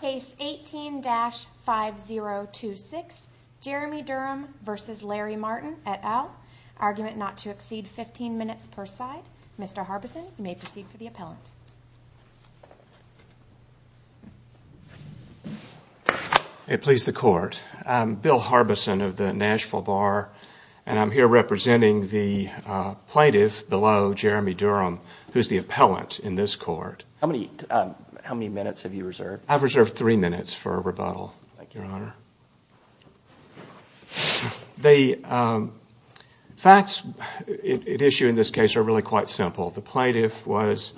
Case 18-5026, Jeremy Durham v. Larry Martin, et al. Argument not to exceed 15 minutes per side. Mr. Harbison, you may proceed for the appellant. It please the court. I'm Bill Harbison of the Nashville Bar, and I'm here representing the plaintiff below Jeremy Durham, who is the appellant in this court. How many minutes have you reserved? I've reserved three minutes for rebuttal, Your Honor. The facts at issue in this case are really quite simple. The plaintiff was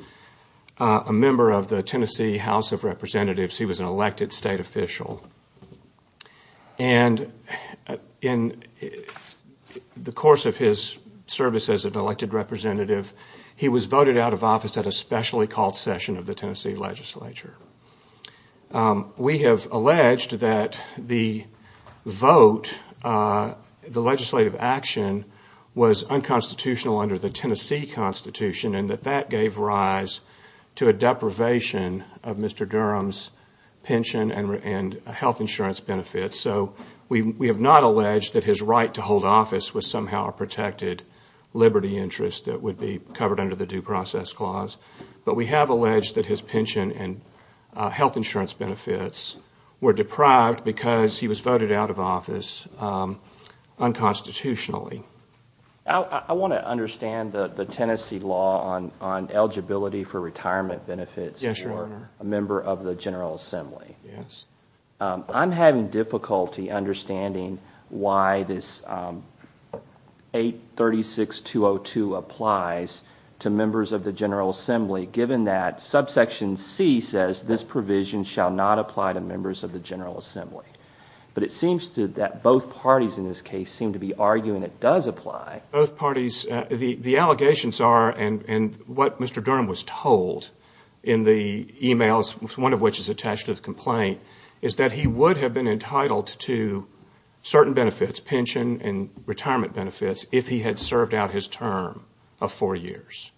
a member of the Tennessee House of Representatives. He was an elected state official. And in the course of his service as an elected representative, he was voted out of office at a specially called session of the Tennessee legislature. We have alleged that the vote, the legislative action, was unconstitutional under the Tennessee Constitution and that that gave rise to a deprivation of Mr. Durham's pension and health insurance benefits. So we have not alleged that his right to hold office was somehow a protected liberty interest that would be covered under the Due Process Clause. But we have alleged that his pension and health insurance benefits were deprived because he was voted out of office unconstitutionally. I want to understand the Tennessee law on eligibility for retirement benefits for a member of the General Assembly. I'm having difficulty understanding why this 836202 applies to members of the General Assembly, given that subsection C says this provision shall not apply to members of the General Assembly. But it seems that both parties in this case seem to be arguing it does apply. Both parties – the allegations are, and what Mr. Durham was told in the emails, one of which is attached to the complaint, is that he would have been entitled to certain benefits, pension and retirement benefits, if he had served out his term of four years.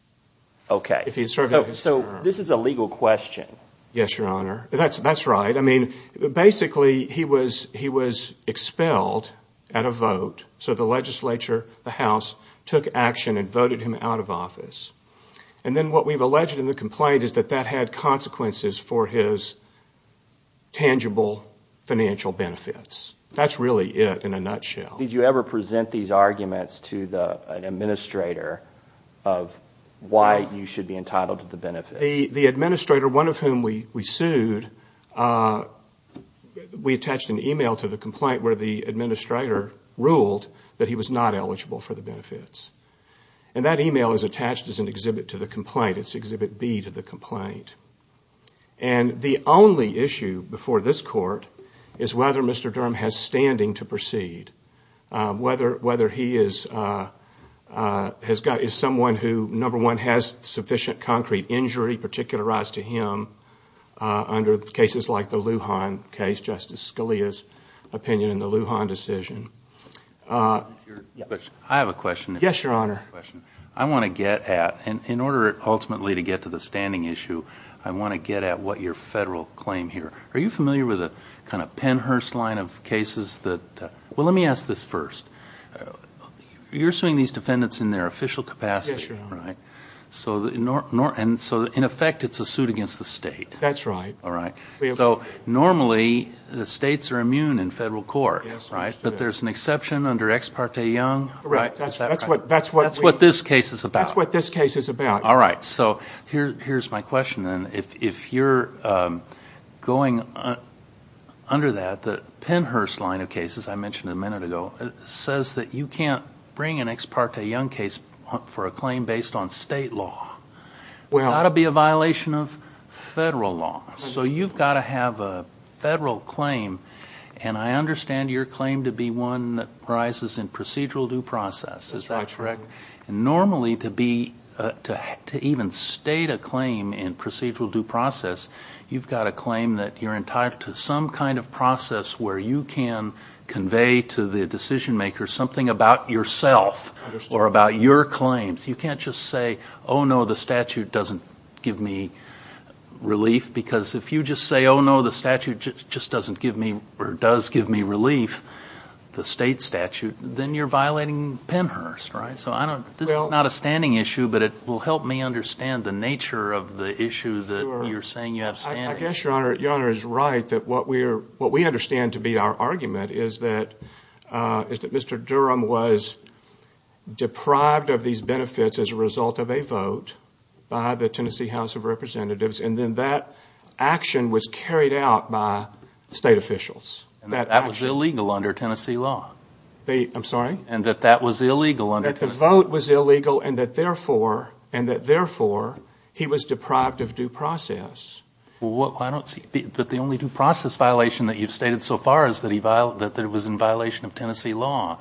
Okay. If he had served out his term. So this is a legal question. Yes, Your Honor. That's right. I mean, basically, he was expelled at a vote, so the legislature, the House, took action and voted him out of office. And then what we've alleged in the complaint is that that had consequences for his tangible financial benefits. That's really it in a nutshell. Did you ever present these arguments to an administrator of why you should be entitled to the benefits? The administrator, one of whom we sued, we attached an email to the complaint where the administrator ruled that he was not eligible for the benefits. And that email is attached as an exhibit to the complaint. It's exhibit B to the complaint. And the only issue before this court is whether Mr. Durham has standing to proceed. Whether he is someone who, number one, has sufficient concrete injury particularized to him under cases like the Lujan case, Justice Scalia's opinion in the Lujan decision. I have a question. Yes, Your Honor. I want to get at, and in order ultimately to get to the standing issue, I want to get at what your federal claim here. Are you familiar with a kind of Pennhurst line of cases that, well, let me ask this first. You're suing these defendants in their official capacity, right? Yes, Your Honor. And so, in effect, it's a suit against the state. That's right. All right. So, normally, the states are immune in federal court, right? Yes, they are. But there's an exception under Ex parte Young. That's what this case is about. That's what this case is about. All right. So, here's my question then. If you're going under that, the Pennhurst line of cases I mentioned a minute ago, it says that you can't bring an Ex parte Young case for a claim based on state law. That would be a violation of federal law. So, you've got to have a federal claim, and I understand your claim to be one that arises in procedural due process. Is that correct? That's correct. Normally, to even state a claim in procedural due process, you've got to claim that you're entitled to some kind of process where you can convey to the decision maker something about yourself or about your claims. You can't just say, oh, no, the statute doesn't give me relief. Because if you just say, oh, no, the statute just doesn't give me or does give me relief, the state statute, then you're violating Pennhurst, right? So, this is not a standing issue, but it will help me understand the nature of the issue that you're saying you have standing. Well, I guess your Honor is right that what we understand to be our argument is that Mr. Durham was deprived of these benefits as a result of a vote by the Tennessee House of Representatives, and then that action was carried out by state officials. That was illegal under Tennessee law. I'm sorry? And that that was illegal under Tennessee law. That the vote was illegal and that, therefore, he was deprived of due process. But the only due process violation that you've stated so far is that it was in violation of Tennessee law.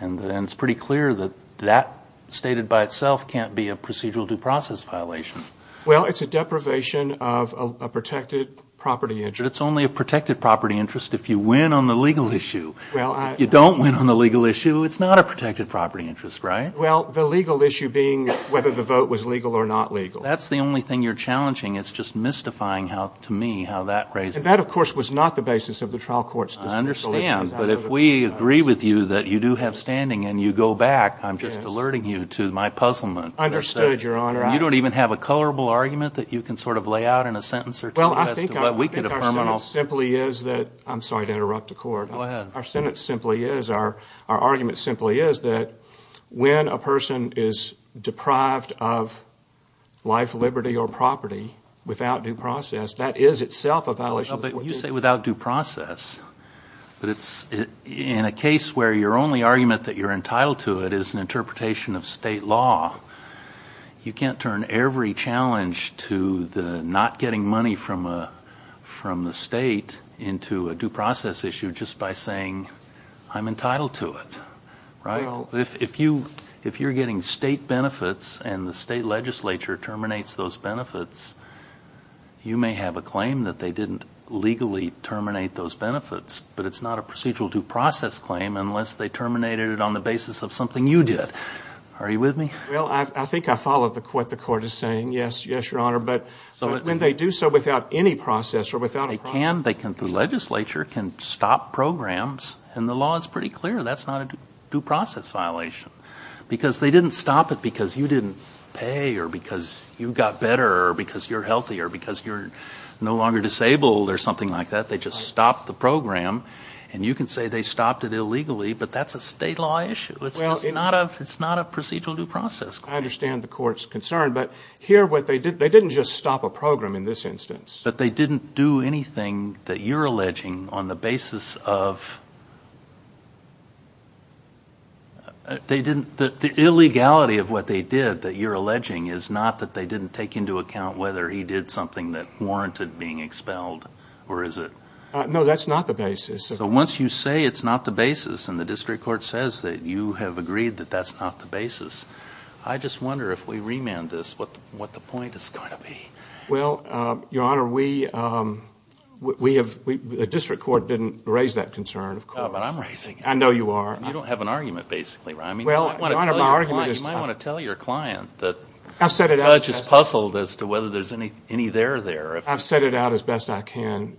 And it's pretty clear that that stated by itself can't be a procedural due process violation. Well, it's a deprivation of a protected property interest. It's only a protected property interest if you win on the legal issue. If you don't win on the legal issue, it's not a protected property interest, right? Well, the legal issue being whether the vote was legal or not legal. That's the only thing you're challenging. It's just mystifying how, to me, how that raises. And that, of course, was not the basis of the trial court's decision. I understand. But if we agree with you that you do have standing and you go back, I'm just alerting you to my puzzlement. I understood, Your Honor. You don't even have a colorable argument that you can sort of lay out in a sentence or two as to what we can affirm on all. Well, I think our sentence simply is that – I'm sorry to interrupt the court. Go ahead. Our sentence simply is – our argument simply is that when a person is deprived of life, liberty, or property without due process, that is itself a violation. You say without due process. But it's – in a case where your only argument that you're entitled to it is an interpretation of state law, you can't turn every challenge to the not getting money from the state into a due process issue just by saying I'm entitled to it, right? Well – If you're getting state benefits and the state legislature terminates those benefits, you may have a claim that they didn't legally terminate those benefits, but it's not a procedural due process claim unless they terminated it on the basis of something you did. Are you with me? Well, I think I follow what the court is saying. Yes, Your Honor. But when they do so without any process or without a process – They can. The legislature can stop programs, and the law is pretty clear that's not a due process violation because they didn't stop it because you didn't pay or because you got better or because you're healthier or because you're no longer disabled or something like that. They just stopped the program. And you can say they stopped it illegally, but that's a state law issue. It's not a procedural due process claim. I understand the court's concern, but here what they did, they didn't just stop a program in this instance. But they didn't do anything that you're alleging on the basis of – the illegality of what they did that you're alleging is not that they didn't take into account whether he did something that warranted being expelled, or is it – No, that's not the basis. So once you say it's not the basis and the district court says that you have agreed that that's not the basis, I just wonder if we remand this what the point is going to be. Well, Your Honor, we have – the district court didn't raise that concern, of course. No, but I'm raising it. I know you are. You don't have an argument, basically, right? Well, Your Honor, my argument is – You might want to tell your client that the judge is puzzled as to whether there's any there there. I've set it out as best I can.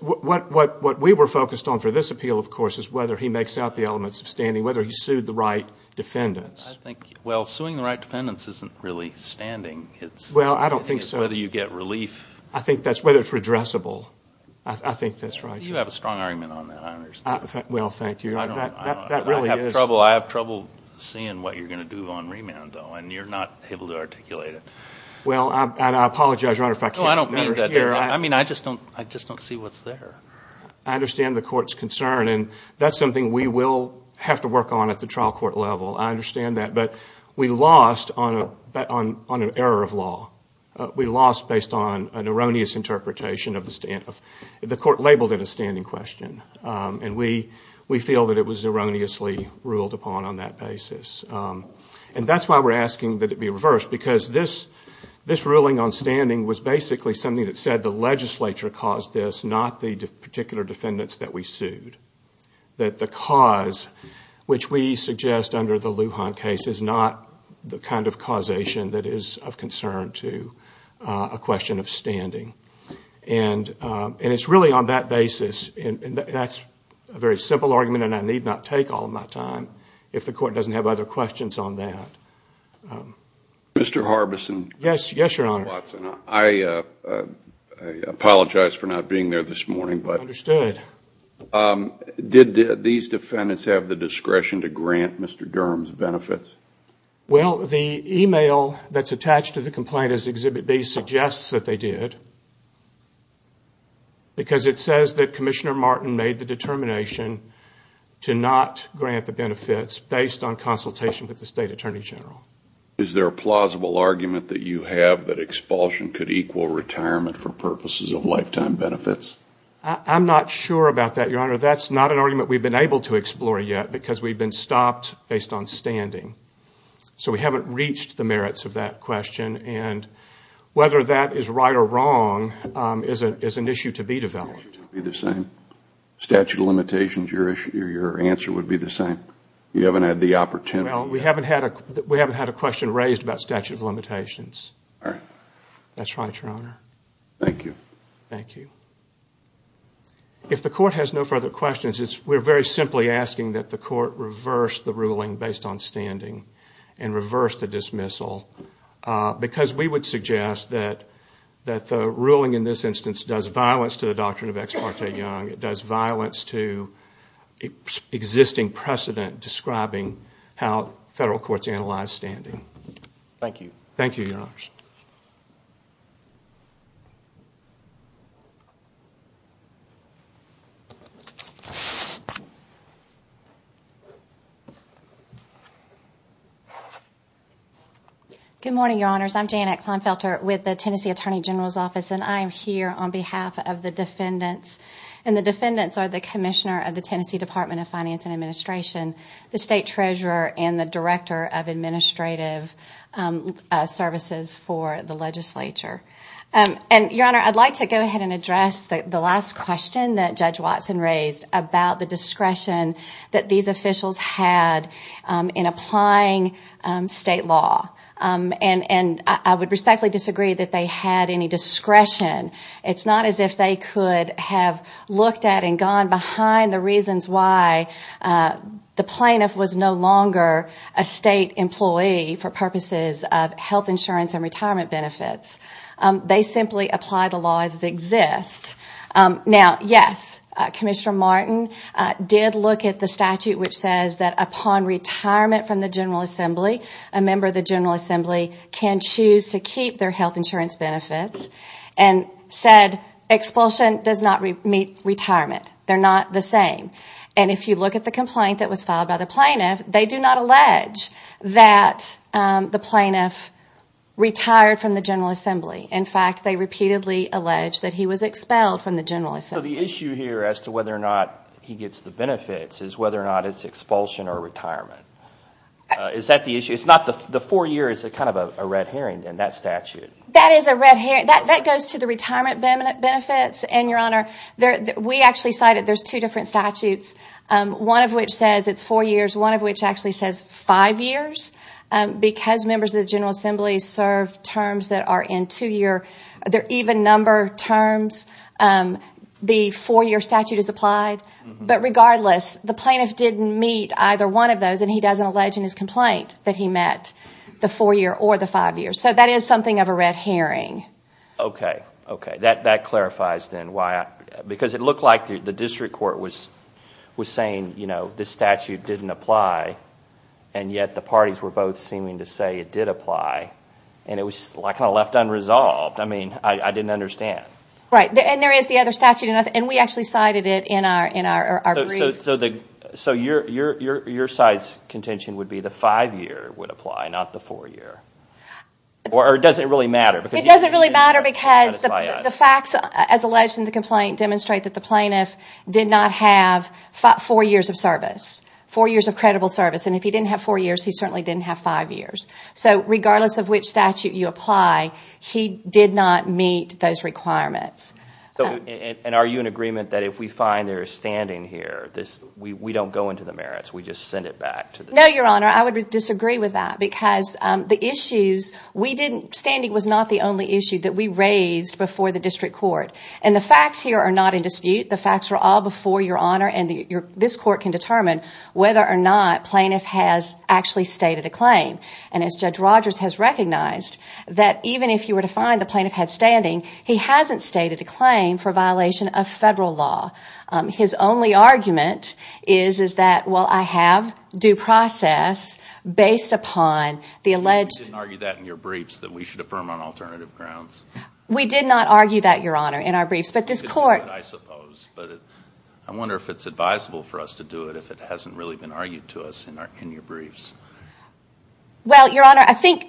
What we were focused on for this appeal, of course, is whether he makes out the elements of standing, whether he sued the right defendants. Well, suing the right defendants isn't really standing. Well, I don't think so. It's whether you get relief. I think that's whether it's redressable. I think that's right. You have a strong argument on that, I understand. Well, thank you. I have trouble seeing what you're going to do on remand, though, and you're not able to articulate it. Well, and I apologize, Your Honor, if I can't – I mean, I just don't see what's there. I understand the court's concern, and that's something we will have to work on at the trial court level. I understand that. But we lost on an error of law. We lost based on an erroneous interpretation of the court labeled it a standing question, and we feel that it was erroneously ruled upon on that basis. And that's why we're asking that it be reversed, because this ruling on standing was basically something that said the legislature caused this, not the particular defendants that we sued, that the cause, which we suggest under the Lujan case, is not the kind of causation that is of concern to a question of standing. And it's really on that basis, and that's a very simple argument, and I need not take all my time if the court doesn't have other questions on that. Mr. Harbison. Yes, Your Honor. I apologize for not being there this morning. Understood. Did these defendants have the discretion to grant Mr. Durham's benefits? Well, the email that's attached to the complaint as Exhibit B suggests that they did, because it says that Commissioner Martin made the determination to not grant the benefits based on consultation with the State Attorney General. Is there a plausible argument that you have that expulsion could equal retirement for purposes of lifetime benefits? I'm not sure about that, Your Honor. That's not an argument we've been able to explore yet, because we've been stopped based on standing. So we haven't reached the merits of that question, and whether that is right or wrong is an issue to be developed. The statute of limitations, your answer would be the same? You haven't had the opportunity? Well, we haven't had a question raised about statute of limitations. All right. That's right, Your Honor. Thank you. Thank you. If the court has no further questions, we're very simply asking that the court reverse the ruling based on standing and reverse the dismissal, because we would suggest that the ruling in this instance does violence to the doctrine of Ex Parte Young. It does violence to existing precedent describing how federal courts analyze standing. Thank you, Your Honors. Good morning, Your Honors. I'm Janet Kleinfelter with the Tennessee Attorney General's Office, and I am here on behalf of the defendants. The defendants are the Commissioner of the Tennessee Department of Finance and Administration, the State Treasurer, and the Director of Administrative Services for the legislature. Your Honor, I'd like to go ahead and address the last question that Judge Watson raised about the discretion that these officials had in applying state law, and I would respectfully disagree that they had any discretion. It's not as if they could have looked at and gone behind the reasons why the plaintiff was no longer a state employee for purposes of health insurance and retirement benefits. They simply applied the law as it exists. Now, yes, Commissioner Martin did look at the statute which says that upon retirement from the General Assembly, a member of the General Assembly can choose to keep their health insurance benefits, and said expulsion does not meet retirement. They're not the same. And if you look at the complaint that was filed by the plaintiff, they do not allege that the plaintiff retired from the General Assembly. In fact, they repeatedly allege that he was expelled from the General Assembly. So the issue here as to whether or not he gets the benefits is whether or not it's expulsion or retirement. Is that the issue? The four years is kind of a red herring in that statute. That is a red herring. That goes to the retirement benefits. And, Your Honor, we actually cited there's two different statutes, one of which says it's four years, one of which actually says five years, because members of the General Assembly serve terms that are in two-year. There are even number terms. The four-year statute is applied. But regardless, the plaintiff didn't meet either one of those, and he doesn't allege in his complaint that he met the four-year or the five-year. So that is something of a red herring. Okay, okay. That clarifies then why, because it looked like the district court was saying, you know, this statute didn't apply, and yet the parties were both seeming to say it did apply, and it was kind of left unresolved. I mean, I didn't understand. Right, and there is the other statute, and we actually cited it in our brief. So your side's contention would be the five-year would apply, not the four-year? Or does it really matter? It doesn't really matter because the facts, as alleged in the complaint, demonstrate that the plaintiff did not have four years of service, four years of credible service. And if he didn't have four years, he certainly didn't have five years. So regardless of which statute you apply, he did not meet those requirements. And are you in agreement that if we find there is standing here, we don't go into the merits, we just send it back? No, Your Honor, I would disagree with that, because standing was not the only issue that we raised before the district court. And the facts here are not in dispute. The facts were all before, Your Honor, and this court can determine whether or not plaintiff has actually stated a claim. And as Judge Rogers has recognized, that even if you were to find the plaintiff had standing, he hasn't stated a claim for violation of federal law. His only argument is, is that, well, I have due process based upon the alleged... You didn't argue that in your briefs that we should affirm on alternative grounds. We did not argue that, Your Honor, in our briefs. But this court... I suppose. But I wonder if it's advisable for us to do it if it hasn't really been argued to us in your briefs. Well, Your Honor, I think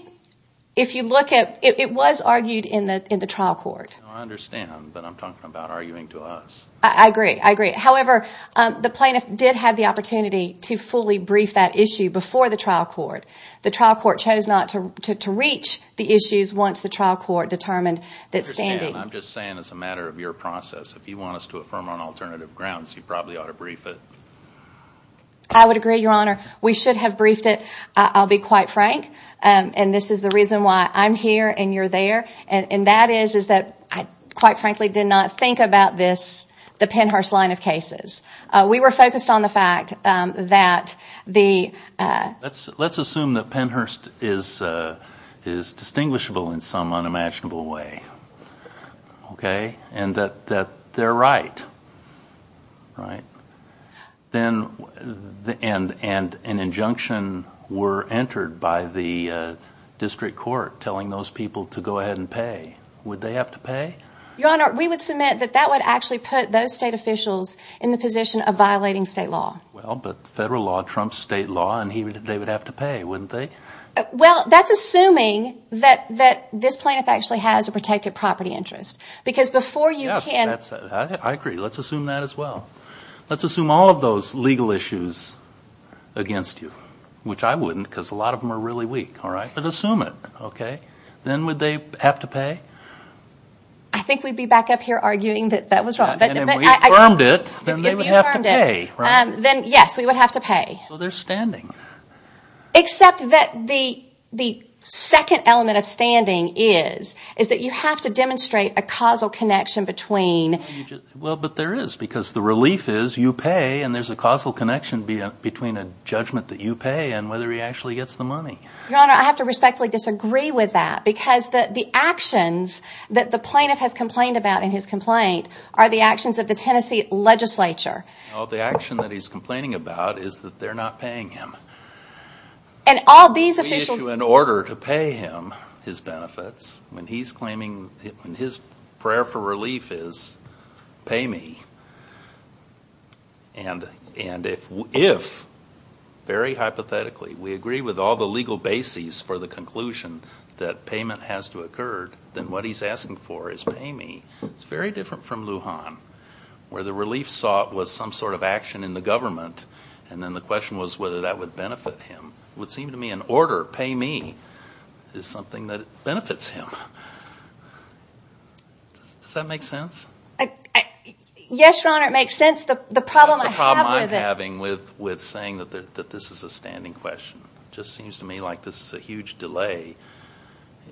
if you look at, it was argued in the trial court. I understand, but I'm talking about arguing to us. I agree. I agree. However, the plaintiff did have the opportunity to fully brief that issue before the trial court. The trial court chose not to reach the issues once the trial court determined that standing. I understand. I'm just saying it's a matter of your process. If you want us to affirm on alternative grounds, you probably ought to brief it. I would agree, Your Honor. We should have briefed it, I'll be quite frank. And this is the reason why I'm here and you're there. And that is that I, quite frankly, did not think about this, the Pennhurst line of cases. We were focused on the fact that the... Let's assume that Pennhurst is distinguishable in some unimaginable way. Okay? And that they're right. Right? And an injunction were entered by the district court telling those people to go ahead and pay. Would they have to pay? Your Honor, we would submit that that would actually put those state officials in the position of violating state law. Well, but federal law trumps state law and they would have to pay, wouldn't they? Well, that's assuming that this plaintiff actually has a protected property interest. Because before you can... Let's assume all of those legal issues against you, which I wouldn't because a lot of them are really weak. All right? But assume it. Okay? Then would they have to pay? I think we'd be back up here arguing that that was wrong. And if we affirmed it, then they would have to pay. Then, yes, we would have to pay. So there's standing. Except that the second element of standing is that you have to demonstrate a causal connection between... Well, but there is because the relief is you pay and there's a causal connection between a judgment that you pay and whether he actually gets the money. Your Honor, I have to respectfully disagree with that because the actions that the plaintiff has complained about in his complaint are the actions of the Tennessee legislature. Well, the action that he's complaining about is that they're not paying him. And all these officials... And if, very hypothetically, we agree with all the legal bases for the conclusion that payment has to occur, then what he's asking for is pay me. It's very different from Lujan where the relief sought was some sort of action in the government and then the question was whether that would benefit him. It would seem to me an order, pay me, is something that benefits him. Does that make sense? Yes, Your Honor, it makes sense. The problem I have with it... That's the problem I'm having with saying that this is a standing question. It just seems to me like this is a huge delay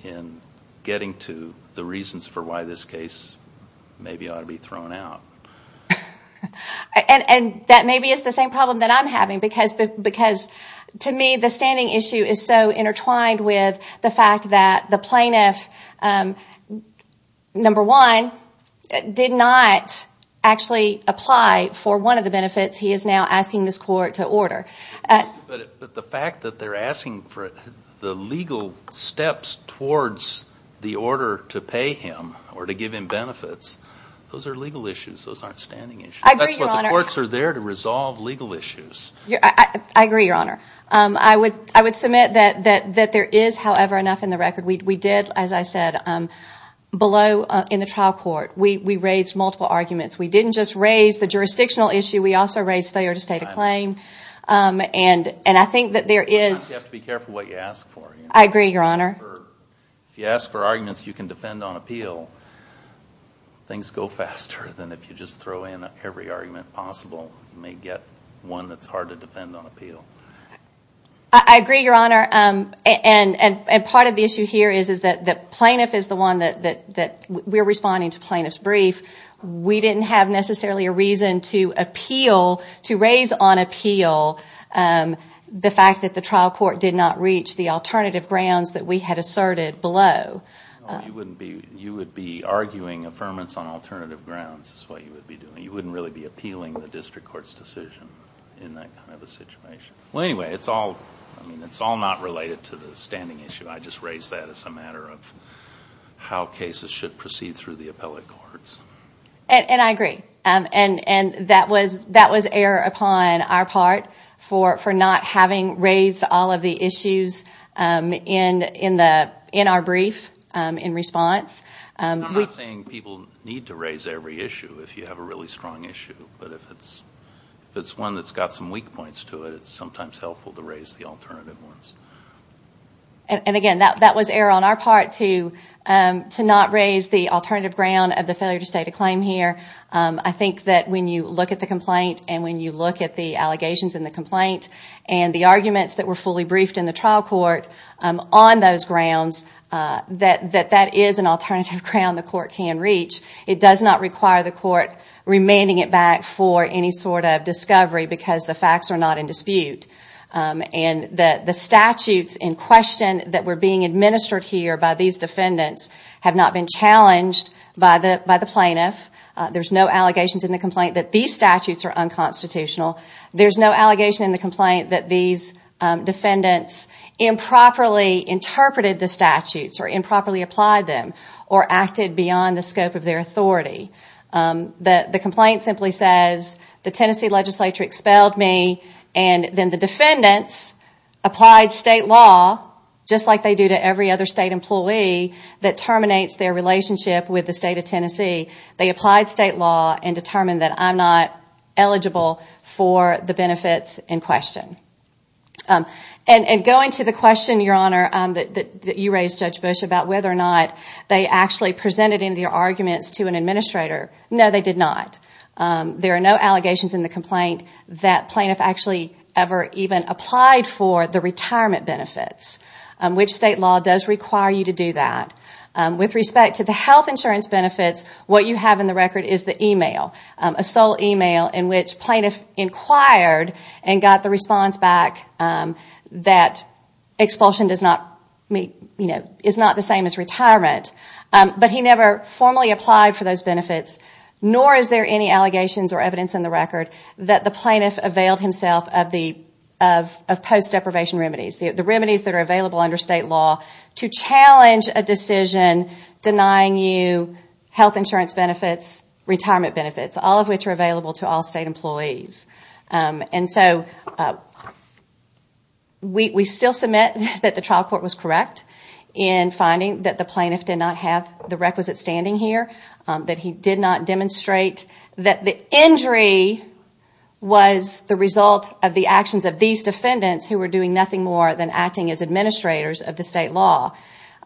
in getting to the reasons for why this case maybe ought to be thrown out. And that maybe is the same problem that I'm having because to me the standing issue is so intertwined with the fact that the plaintiff, number one, did not actually apply for one of the benefits he is now asking this court to order. But the fact that they're asking for the legal steps towards the order to pay him or to give him benefits, those are legal issues. Those aren't standing issues. I agree, Your Honor. That's why the courts are there to resolve legal issues. I agree, Your Honor. I would submit that there is, however, enough in the record. We did, as I said, below in the trial court. We raised multiple arguments. We didn't just raise the jurisdictional issue. We also raised failure to state a claim. And I think that there is... You have to be careful what you ask for. I agree, Your Honor. If you ask for arguments you can defend on appeal, things go faster than if you just throw in every argument possible. You may get one that's hard to defend on appeal. I agree, Your Honor. And part of the issue here is that the plaintiff is the one that we're responding to plaintiff's brief. We didn't have necessarily a reason to appeal, to raise on appeal, the fact that the trial court did not reach the alternative grounds that we had asserted below. No, you wouldn't be... You would be arguing affirmance on alternative grounds is what you would be doing. You wouldn't really be appealing the district court's decision in that kind of a situation. Well, anyway, it's all... I mean, it's all not related to the standing issue. I just raise that as a matter of how cases should proceed through the appellate courts. And I agree. And that was error upon our part for not having raised all of the issues in our brief in response. I'm not saying people need to raise every issue if you have a really strong issue. But if it's one that's got some weak points to it, it's sometimes helpful to raise the alternative ones. And, again, that was error on our part to not raise the alternative ground of the failure to state a claim here. I think that when you look at the complaint and when you look at the allegations in the complaint and the arguments that were fully briefed in the trial court on those grounds, that that is an alternative ground the court can reach. It does not require the court remanding it back for any sort of discovery because the facts are not in dispute. And the statutes in question that were being administered here by these defendants have not been challenged by the plaintiff. There's no allegations in the complaint that these statutes are unconstitutional. There's no allegation in the complaint that these defendants improperly interpreted the statutes or improperly applied them or acted beyond the scope of their authority. The complaint simply says the Tennessee legislature expelled me, and then the defendants applied state law just like they do to every other state employee that terminates their relationship with the state of Tennessee. They applied state law and determined that I'm not eligible for the benefits in question. And going to the question, Your Honor, that you raised, Judge Bush, about whether or not they actually presented in their arguments to an administrator. No, they did not. There are no allegations in the complaint that plaintiff actually ever even applied for the retirement benefits, which state law does require you to do that. With respect to the health insurance benefits, what you have in the record is the e-mail, a sole e-mail in which plaintiff inquired and got the response back that expulsion is not the same as retirement, but he never formally applied for those benefits, nor is there any allegations or evidence in the record that the plaintiff availed himself of post-deprivation remedies, the remedies that are available under state law, to challenge a decision denying you health insurance benefits, retirement benefits, all of which are available to all state employees. And so we still submit that the trial court was correct in finding that the plaintiff did not have the requisite standing here, that he did not demonstrate that the injury was the result of the actions of these defendants who were doing nothing more than acting as administrators of the state law.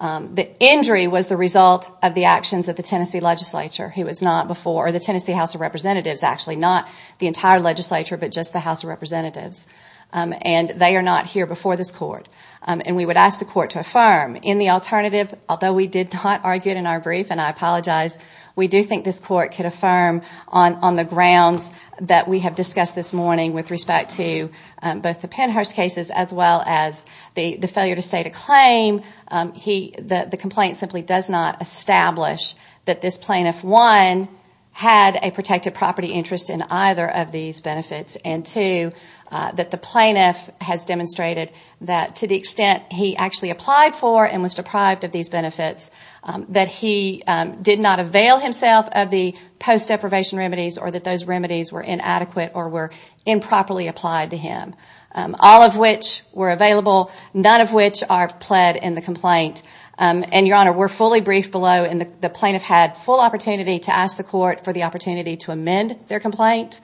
The injury was the result of the actions of the Tennessee legislature who was not before, or the Tennessee House of Representatives actually, not the entire legislature, but just the House of Representatives. And they are not here before this court. And we would ask the court to affirm. In the alternative, although we did not argue it in our brief, and I apologize, we do think this court could affirm on the grounds that we have discussed this morning with respect to both the Pennhurst cases as well as the failure to state a claim. The complaint simply does not establish that this plaintiff, one, had a protected property interest in either of these benefits, and two, that the plaintiff has demonstrated that to the extent he actually applied for and was deprived of these benefits, that he did not avail himself of the post-deprivation remedies or that those remedies were inadequate or were improperly applied to him, all of which were available, none of which are pled in the complaint. And, Your Honor, we're fully briefed below, and the plaintiff had full opportunity to ask the court for the opportunity to amend their complaint,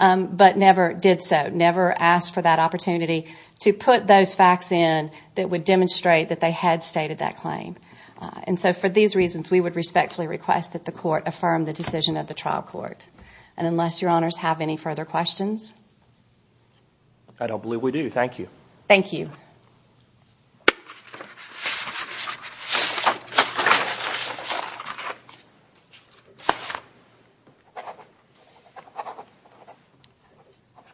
but never did so, never asked for that opportunity to put those facts in that would demonstrate that they had stated that claim. And so for these reasons, we would respectfully request that the court affirm the decision of the trial court. And unless Your Honors have any further questions? I don't believe we do. Thank you. Thank you.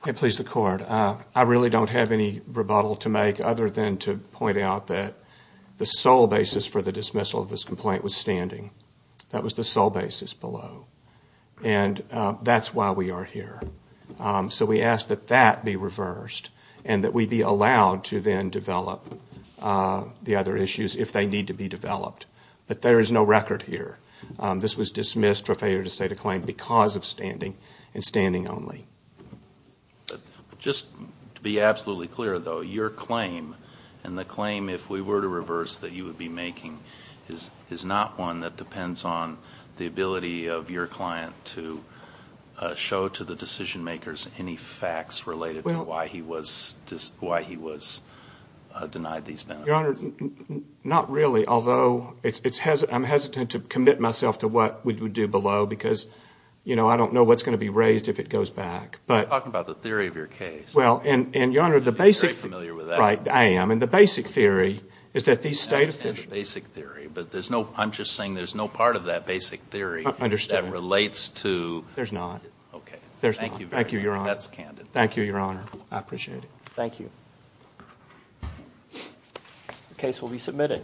May it please the Court, I really don't have any rebuttal to make other than to point out that the sole basis for the dismissal of this complaint was standing. That was the sole basis below. And that's why we are here. So we ask that that be reversed and that we be allowed to then develop the other issues if they need to be developed. But there is no record here. This was dismissed for failure to state a claim because of standing and standing only. Just to be absolutely clear, though, your claim and the claim, if we were to reverse, that you would be making is not one that depends on the ability of your client to show to the decision makers any facts related to why he was denied these benefits. Your Honor, not really. Although I'm hesitant to commit myself to what we would do below because, you know, I don't know what's going to be raised if it goes back. You're talking about the theory of your case. You're very familiar with that. I am. And the basic theory is that these state officials... I understand the basic theory, but I'm just saying there's no part of that basic theory that relates to... There's not. Okay. Thank you very much. Thank you, Your Honor. That's candid. Thank you, Your Honor. I appreciate it. Thank you. The case will be submitted.